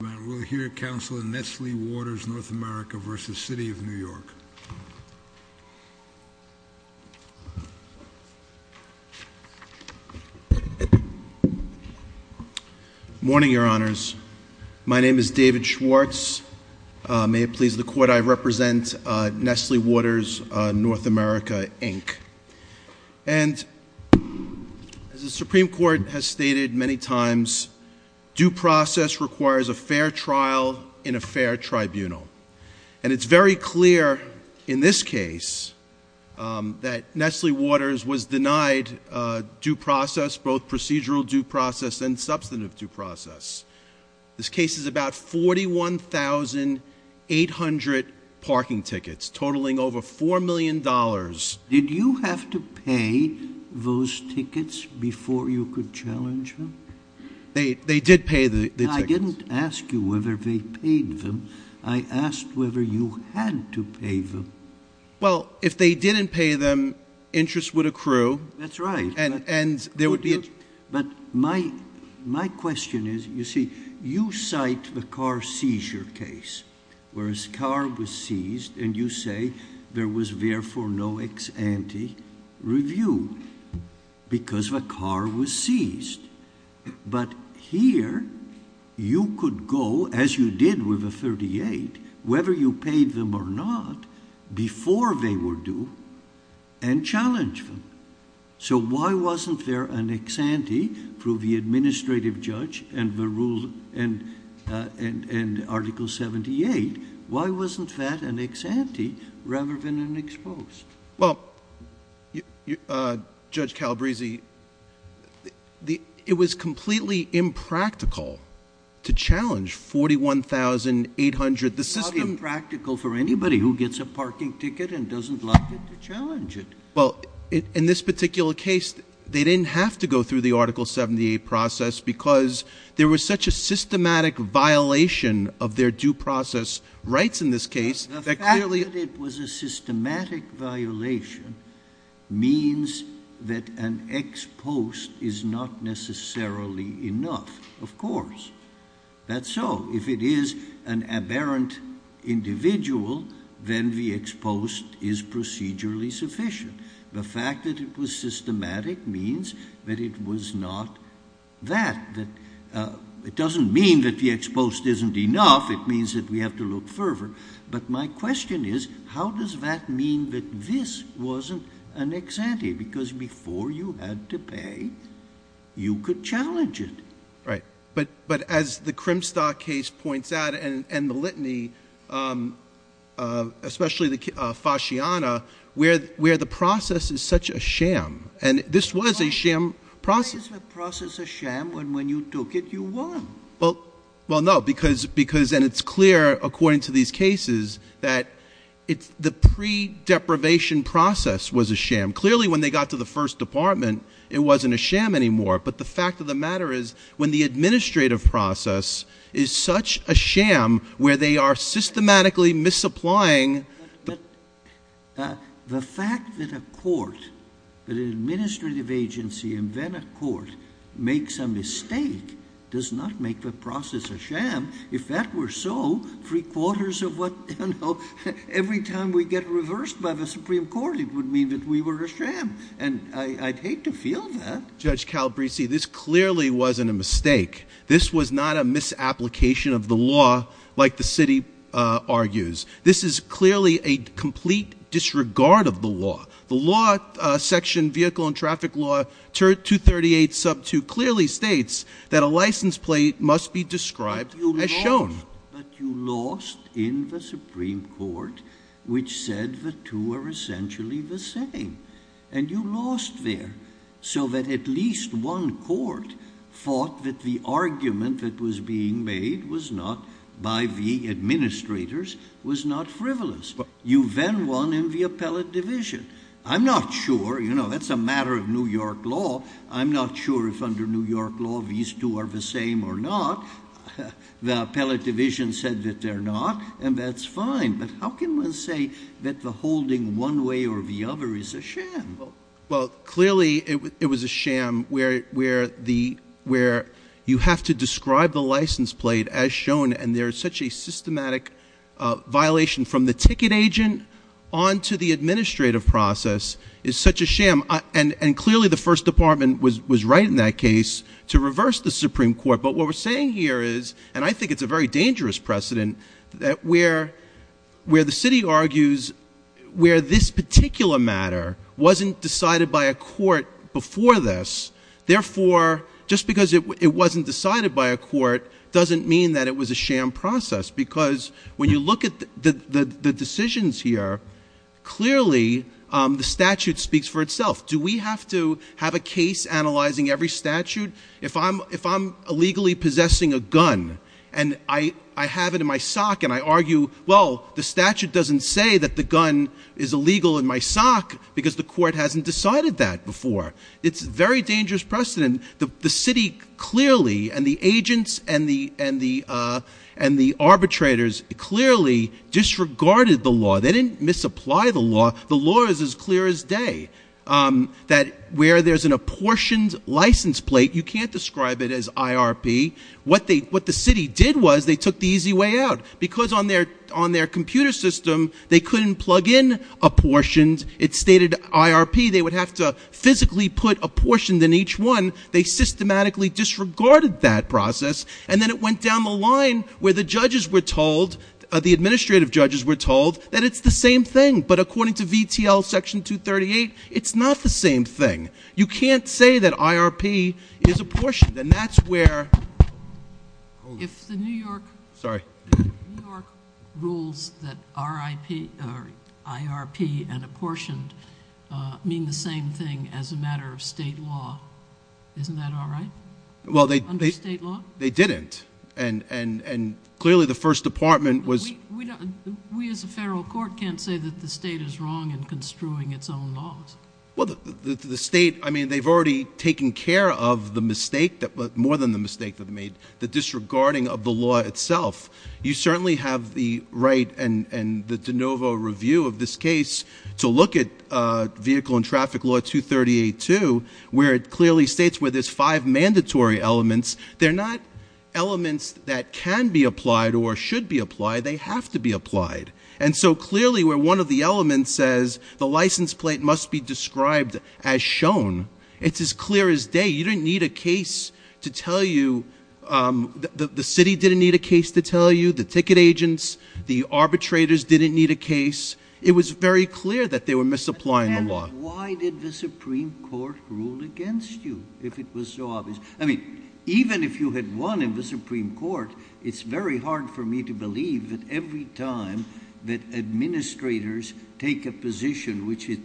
We'll hear counsel in Nestle Waters North America versus City of New York. Morning, your honors. My name is David Schwartz. May it please the court, I represent Nestle Waters North America, Inc. And as the Supreme Court has stated many times, due process requires a fair trial in a fair tribunal. And it's very clear in this case that Nestle Waters was denied due process, both procedural due process and substantive due process. This case is about 41,800 parking tickets, totaling over $4 million. Did you have to pay those tickets before you could challenge them? They did pay the tickets. I didn't ask you whether they paid them. I asked whether you had to pay them. Well, if they didn't pay them, interest would accrue. That's right. And there would be- But my question is, you see, you cite the car seizure case. Whereas car was seized, and you say there was therefore no ex ante review because the car was seized. But here, you could go, as you did with the 38, whether you paid them or not, before they were due, and challenge them. So why wasn't there an ex ante through the administrative judge and Article 78? Why wasn't that an ex ante rather than an exposed? Well, Judge Calabresi, it was completely impractical to challenge 41,800. It's not impractical for anybody who gets a parking ticket and doesn't like it to challenge it. Well, in this particular case, they didn't have to go through the Article 78 process because there was such a systematic violation of their due process rights in this case. The fact that it was a systematic violation means that an ex post is not necessarily enough. Of course, that's so. If it is an aberrant individual, then the ex post is procedurally sufficient. The fact that it was systematic means that it was not that. It doesn't mean that the ex post isn't enough. It means that we have to look further. But my question is, how does that mean that this wasn't an ex ante? Because before you had to pay, you could challenge it. Right, but as the Crimstock case points out, and the litany, especially the Fasciana, where the process is such a sham, and this was a sham process. Why is the process a sham when when you took it, you won? Well, no, because then it's clear, according to these cases, that the pre-deprivation process was a sham. Clearly, when they got to the first department, it wasn't a sham anymore. But the fact of the matter is, when the administrative process is such a sham, where they are systematically misapplying. But the fact that a court, that an administrative agency and then a court makes a mistake does not make the process a sham. If that were so, three quarters of what, every time we get reversed by the Supreme Court, it would mean that we were a sham. And I'd hate to feel that. Judge Calabresi, this clearly wasn't a mistake. This was not a misapplication of the law, like the city argues. This is clearly a complete disregard of the law. The law section vehicle and traffic law 238 sub 2 clearly states that a license plate must be described as shown. But you lost in the Supreme Court, which said the two are essentially the same. And you lost there, so that at least one court thought that the argument that was being made was not, by the administrators, was not frivolous. You then won in the appellate division. I'm not sure, that's a matter of New York law. I'm not sure if under New York law these two are the same or not. The appellate division said that they're not, and that's fine. But how can one say that the holding one way or the other is a sham? Well, clearly it was a sham where you have to describe the license plate as shown. And there is such a systematic violation from the ticket agent on to the administrative process. It's such a sham. And clearly the first department was right in that case to reverse the Supreme Court. But what we're saying here is, and I think it's a very dangerous precedent that where the city argues where this particular matter wasn't decided by a court before this. Therefore, just because it wasn't decided by a court doesn't mean that it was a sham process. Because when you look at the decisions here, clearly the statute speaks for itself. Do we have to have a case analyzing every statute? If I'm illegally possessing a gun, and I have it in my sock and I argue, well, the statute doesn't say that the gun is illegal in my sock, because the court hasn't decided that before, it's a very dangerous precedent. The city clearly, and the agents and the arbitrators clearly disregarded the law. They didn't misapply the law. The law is as clear as day, that where there's an apportioned license plate, you can't describe it as IRP, what the city did was they took the easy way out. Because on their computer system, they couldn't plug in apportioned. It stated IRP. They would have to physically put apportioned in each one. They systematically disregarded that process. And then it went down the line where the judges were told, the administrative judges were told, that it's the same thing. But according to VTL section 238, it's not the same thing. You can't say that IRP is apportioned, and that's where- If the New York- Sorry. New York rules that IRP and apportioned mean the same thing as a matter of state law, isn't that all right? Well, they- Under state law? They didn't. And clearly, the first department was- We as a federal court can't say that the state is wrong in construing its own laws. Well, the state, I mean, they've already taken care of the mistake, but more than the mistake they've made. The disregarding of the law itself. You certainly have the right and the de novo review of this case to look at vehicle and traffic law 238-2, where it clearly states where there's five mandatory elements. They're not elements that can be applied or should be applied, they have to be applied. And so clearly, where one of the elements says the license plate must be described as shown, it's as clear as day. You didn't need a case to tell you- The city didn't need a case to tell you, the ticket agents, the arbitrators didn't need a case. It was very clear that they were misapplying the law. Why did the Supreme Court rule against you, if it was so obvious? I mean, even if you had won in the Supreme Court, it's very hard for me to believe that every time that administrators take a position which it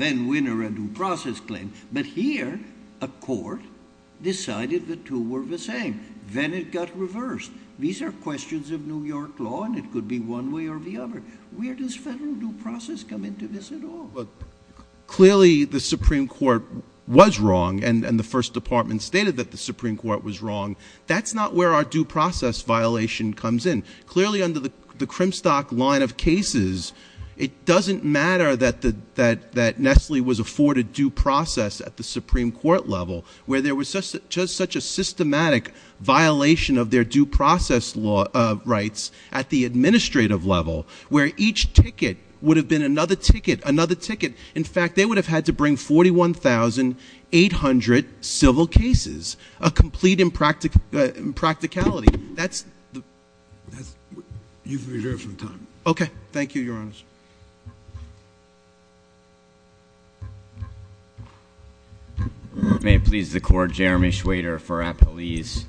then winner a due process claim. But here, a court decided the two were the same, then it got reversed. These are questions of New York law, and it could be one way or the other. Where does federal due process come into this at all? Clearly, the Supreme Court was wrong, and the first department stated that the Supreme Court was wrong. That's not where our due process violation comes in. Clearly, under the Crimstock line of cases, it doesn't matter that Nestle was afforded due process at the Supreme Court level, where there was just such a systematic violation of their due process rights at the administrative level. Where each ticket would have been another ticket, another ticket. In fact, they would have had to bring 41,800 civil cases, a complete impracticality. That's the- You've reserved some time. Okay, thank you, your honors. May it please the court, Jeremy Schwader for Appalese.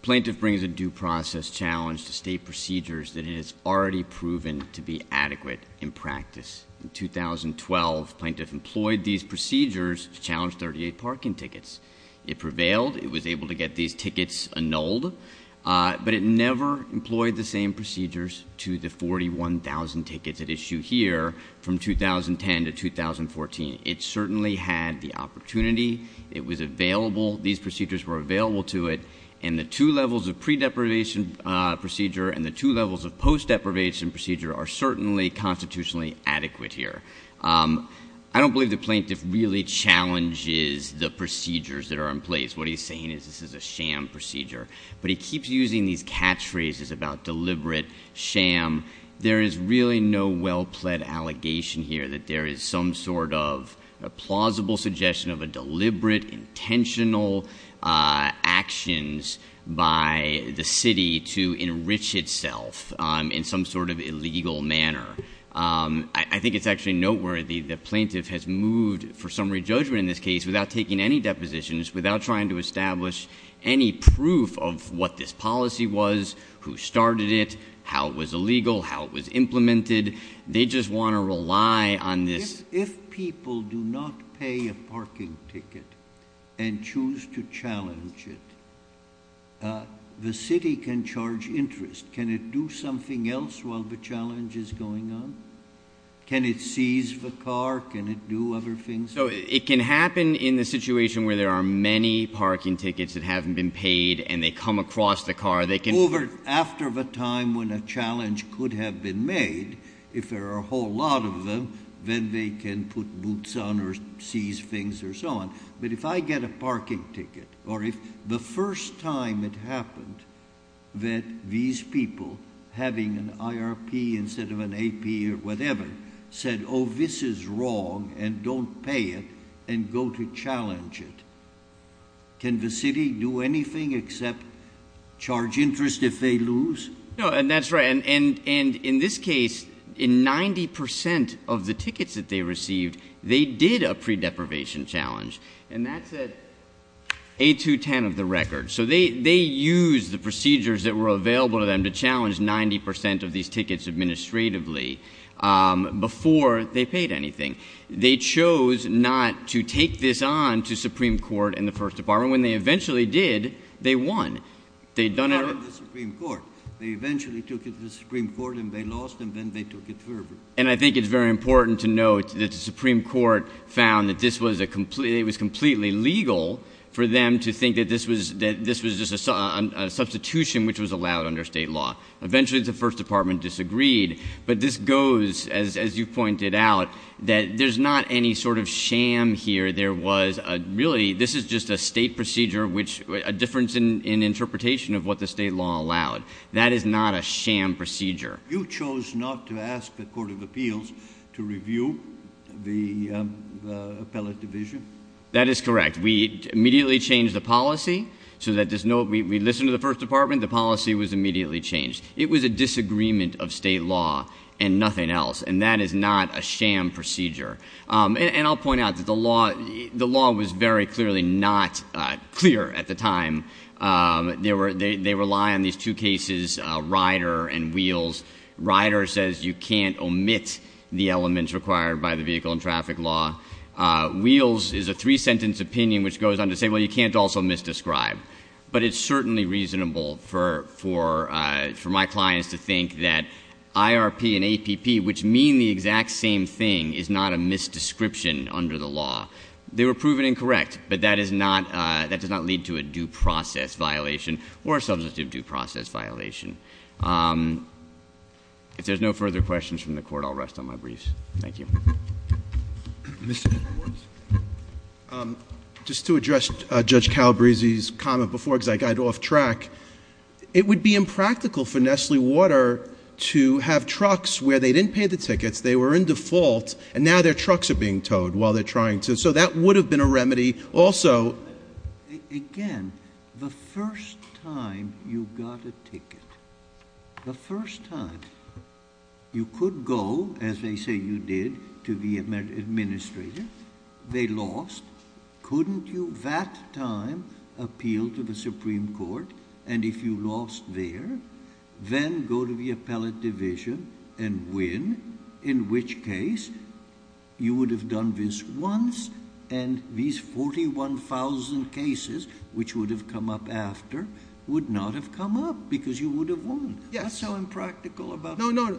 Plaintiff brings a due process challenge to state procedures that it has already proven to be adequate in practice. In 2012, plaintiff employed these procedures to challenge 38 parking tickets. It prevailed, it was able to get these tickets annulled, but it never employed the same procedures to the 41,000 tickets at issue here from 2010 to 2014. It certainly had the opportunity, it was available, these procedures were available to it. And the two levels of pre-deprivation procedure and the two levels of post-deprivation procedure are certainly constitutionally adequate here. I don't believe the plaintiff really challenges the procedures that are in place. What he's saying is this is a sham procedure. But he keeps using these catchphrases about deliberate sham. There is really no well-pled allegation here that there is some sort of a plausible suggestion of a deliberate, intentional actions by the city to enrich itself in some sort of illegal manner. I think it's actually noteworthy that plaintiff has moved for some re-judgment in this case without taking any depositions, without trying to establish any proof of what this policy was, who started it, how it was illegal, how it was implemented. They just want to rely on this- If people do not pay a parking ticket and choose to challenge it, the city can charge interest. Can it do something else while the challenge is going on? Can it seize the car? Can it do other things? So it can happen in the situation where there are many parking tickets that haven't been paid and they come across the car. They can- After the time when a challenge could have been made, if there are a whole lot of them, then they can put boots on or seize things or so on. But if I get a parking ticket, or if the first time it happened that these people, having an IRP instead of an AP or whatever, said, this is wrong and don't pay it and go to challenge it. Can the city do anything except charge interest if they lose? No, and that's right. And in this case, in 90% of the tickets that they received, they did a pre-deprivation challenge. And that's at 8 to 10 of the record. So they used the procedures that were available to them to challenge 90% of these tickets administratively. Before they paid anything. They chose not to take this on to Supreme Court and the First Department. When they eventually did, they won. They'd done it- They won the Supreme Court. They eventually took it to the Supreme Court and they lost and then they took it verbally. And I think it's very important to note that the Supreme Court found that it was completely legal for them to think that this was just a substitution which was allowed under state law. Eventually, the First Department disagreed. But this goes, as you pointed out, that there's not any sort of sham here. There was a really, this is just a state procedure, which a difference in interpretation of what the state law allowed. That is not a sham procedure. You chose not to ask the Court of Appeals to review the appellate division? That is correct. We immediately changed the policy so that there's no, we listened to the First Department, the policy was immediately changed. It was a disagreement of state law and nothing else. And that is not a sham procedure. And I'll point out that the law was very clearly not clear at the time. They rely on these two cases, Rider and Wheels. Rider says you can't omit the elements required by the vehicle and traffic law. Wheels is a three sentence opinion which goes on to say, well, you can't also misdescribe. But it's certainly reasonable for my clients to think that IRP and misdescription under the law, they were proven incorrect. But that does not lead to a due process violation or a substitute due process violation. If there's no further questions from the court, I'll rest on my briefs. Thank you. Mr. Edwards. Just to address Judge Calabrese's comment before, because I got off track. It would be impractical for Nestle Water to have trucks where they didn't pay the tickets, they were in default, and now their trucks are being towed while they're trying to, so that would have been a remedy also. Again, the first time you got a ticket, the first time you could go, as they say you did, to the administrator. They lost. Couldn't you that time appeal to the Supreme Court? And if you lost there, then go to the appellate division and win. In which case, you would have done this once, and these 41,000 cases, which would have come up after, would not have come up, because you would have won. That's so impractical about- No, no,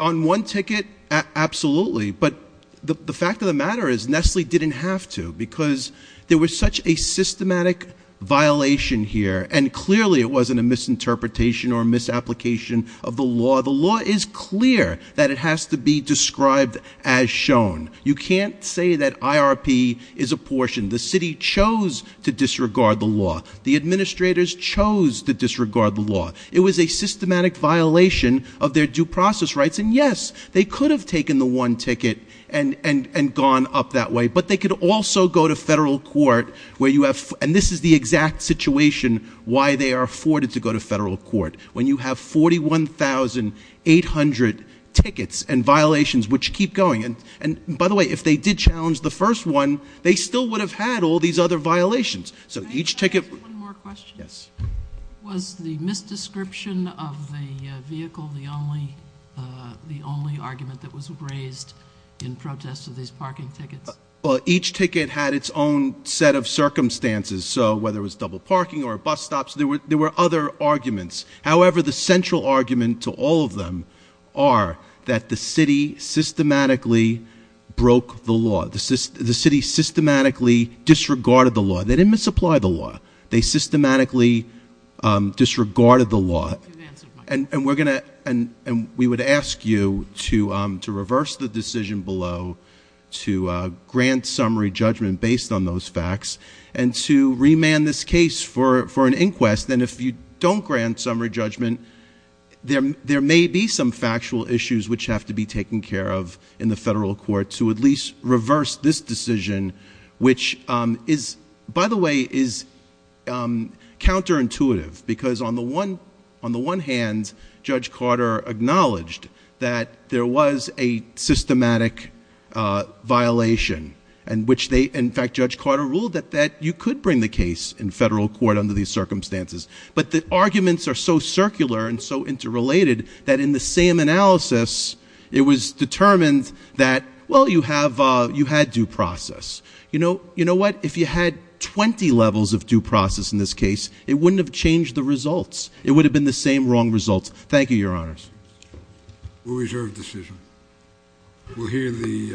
on one ticket, absolutely. But the fact of the matter is, Nestle didn't have to, because there was such a systematic violation here, and clearly it wasn't a misinterpretation or misapplication of the law. The law is clear that it has to be described as shown. You can't say that IRP is apportioned. The city chose to disregard the law. The administrators chose to disregard the law. It was a systematic violation of their due process rights, and yes, they could have taken the one ticket and gone up that way. But they could also go to federal court where you have, and this is the exact situation why they are afforded to go to federal court. When you have 41,800 tickets and violations which keep going. And by the way, if they did challenge the first one, they still would have had all these other violations. So each ticket- Can I ask one more question? Yes. Was the misdescription of the vehicle the only argument that was raised in protest of these parking tickets? Well, each ticket had its own set of circumstances. So whether it was double parking or bus stops, there were other arguments. However, the central argument to all of them are that the city systematically broke the law. The city systematically disregarded the law. They didn't misapply the law. They systematically disregarded the law. And we would ask you to reverse the decision below, to grant summary judgment based on those facts, and to remand this case for an inquest. And if you don't grant summary judgment, there may be some factual issues which have to be taken care of in the federal court to at least reverse this decision, which is, by the way, is counterintuitive, because on the one hand, Judge Carter acknowledged that there was a systematic violation, in which they, in fact, Judge Carter ruled that you could bring the case in federal court under these circumstances. But the arguments are so circular and so interrelated that in the same analysis, it was determined that, well, you had due process. You know what? If you had 20 levels of due process in this case, it wouldn't have changed the results. It would have been the same wrong results. Thank you, your honors. We'll reserve the decision. We'll hear the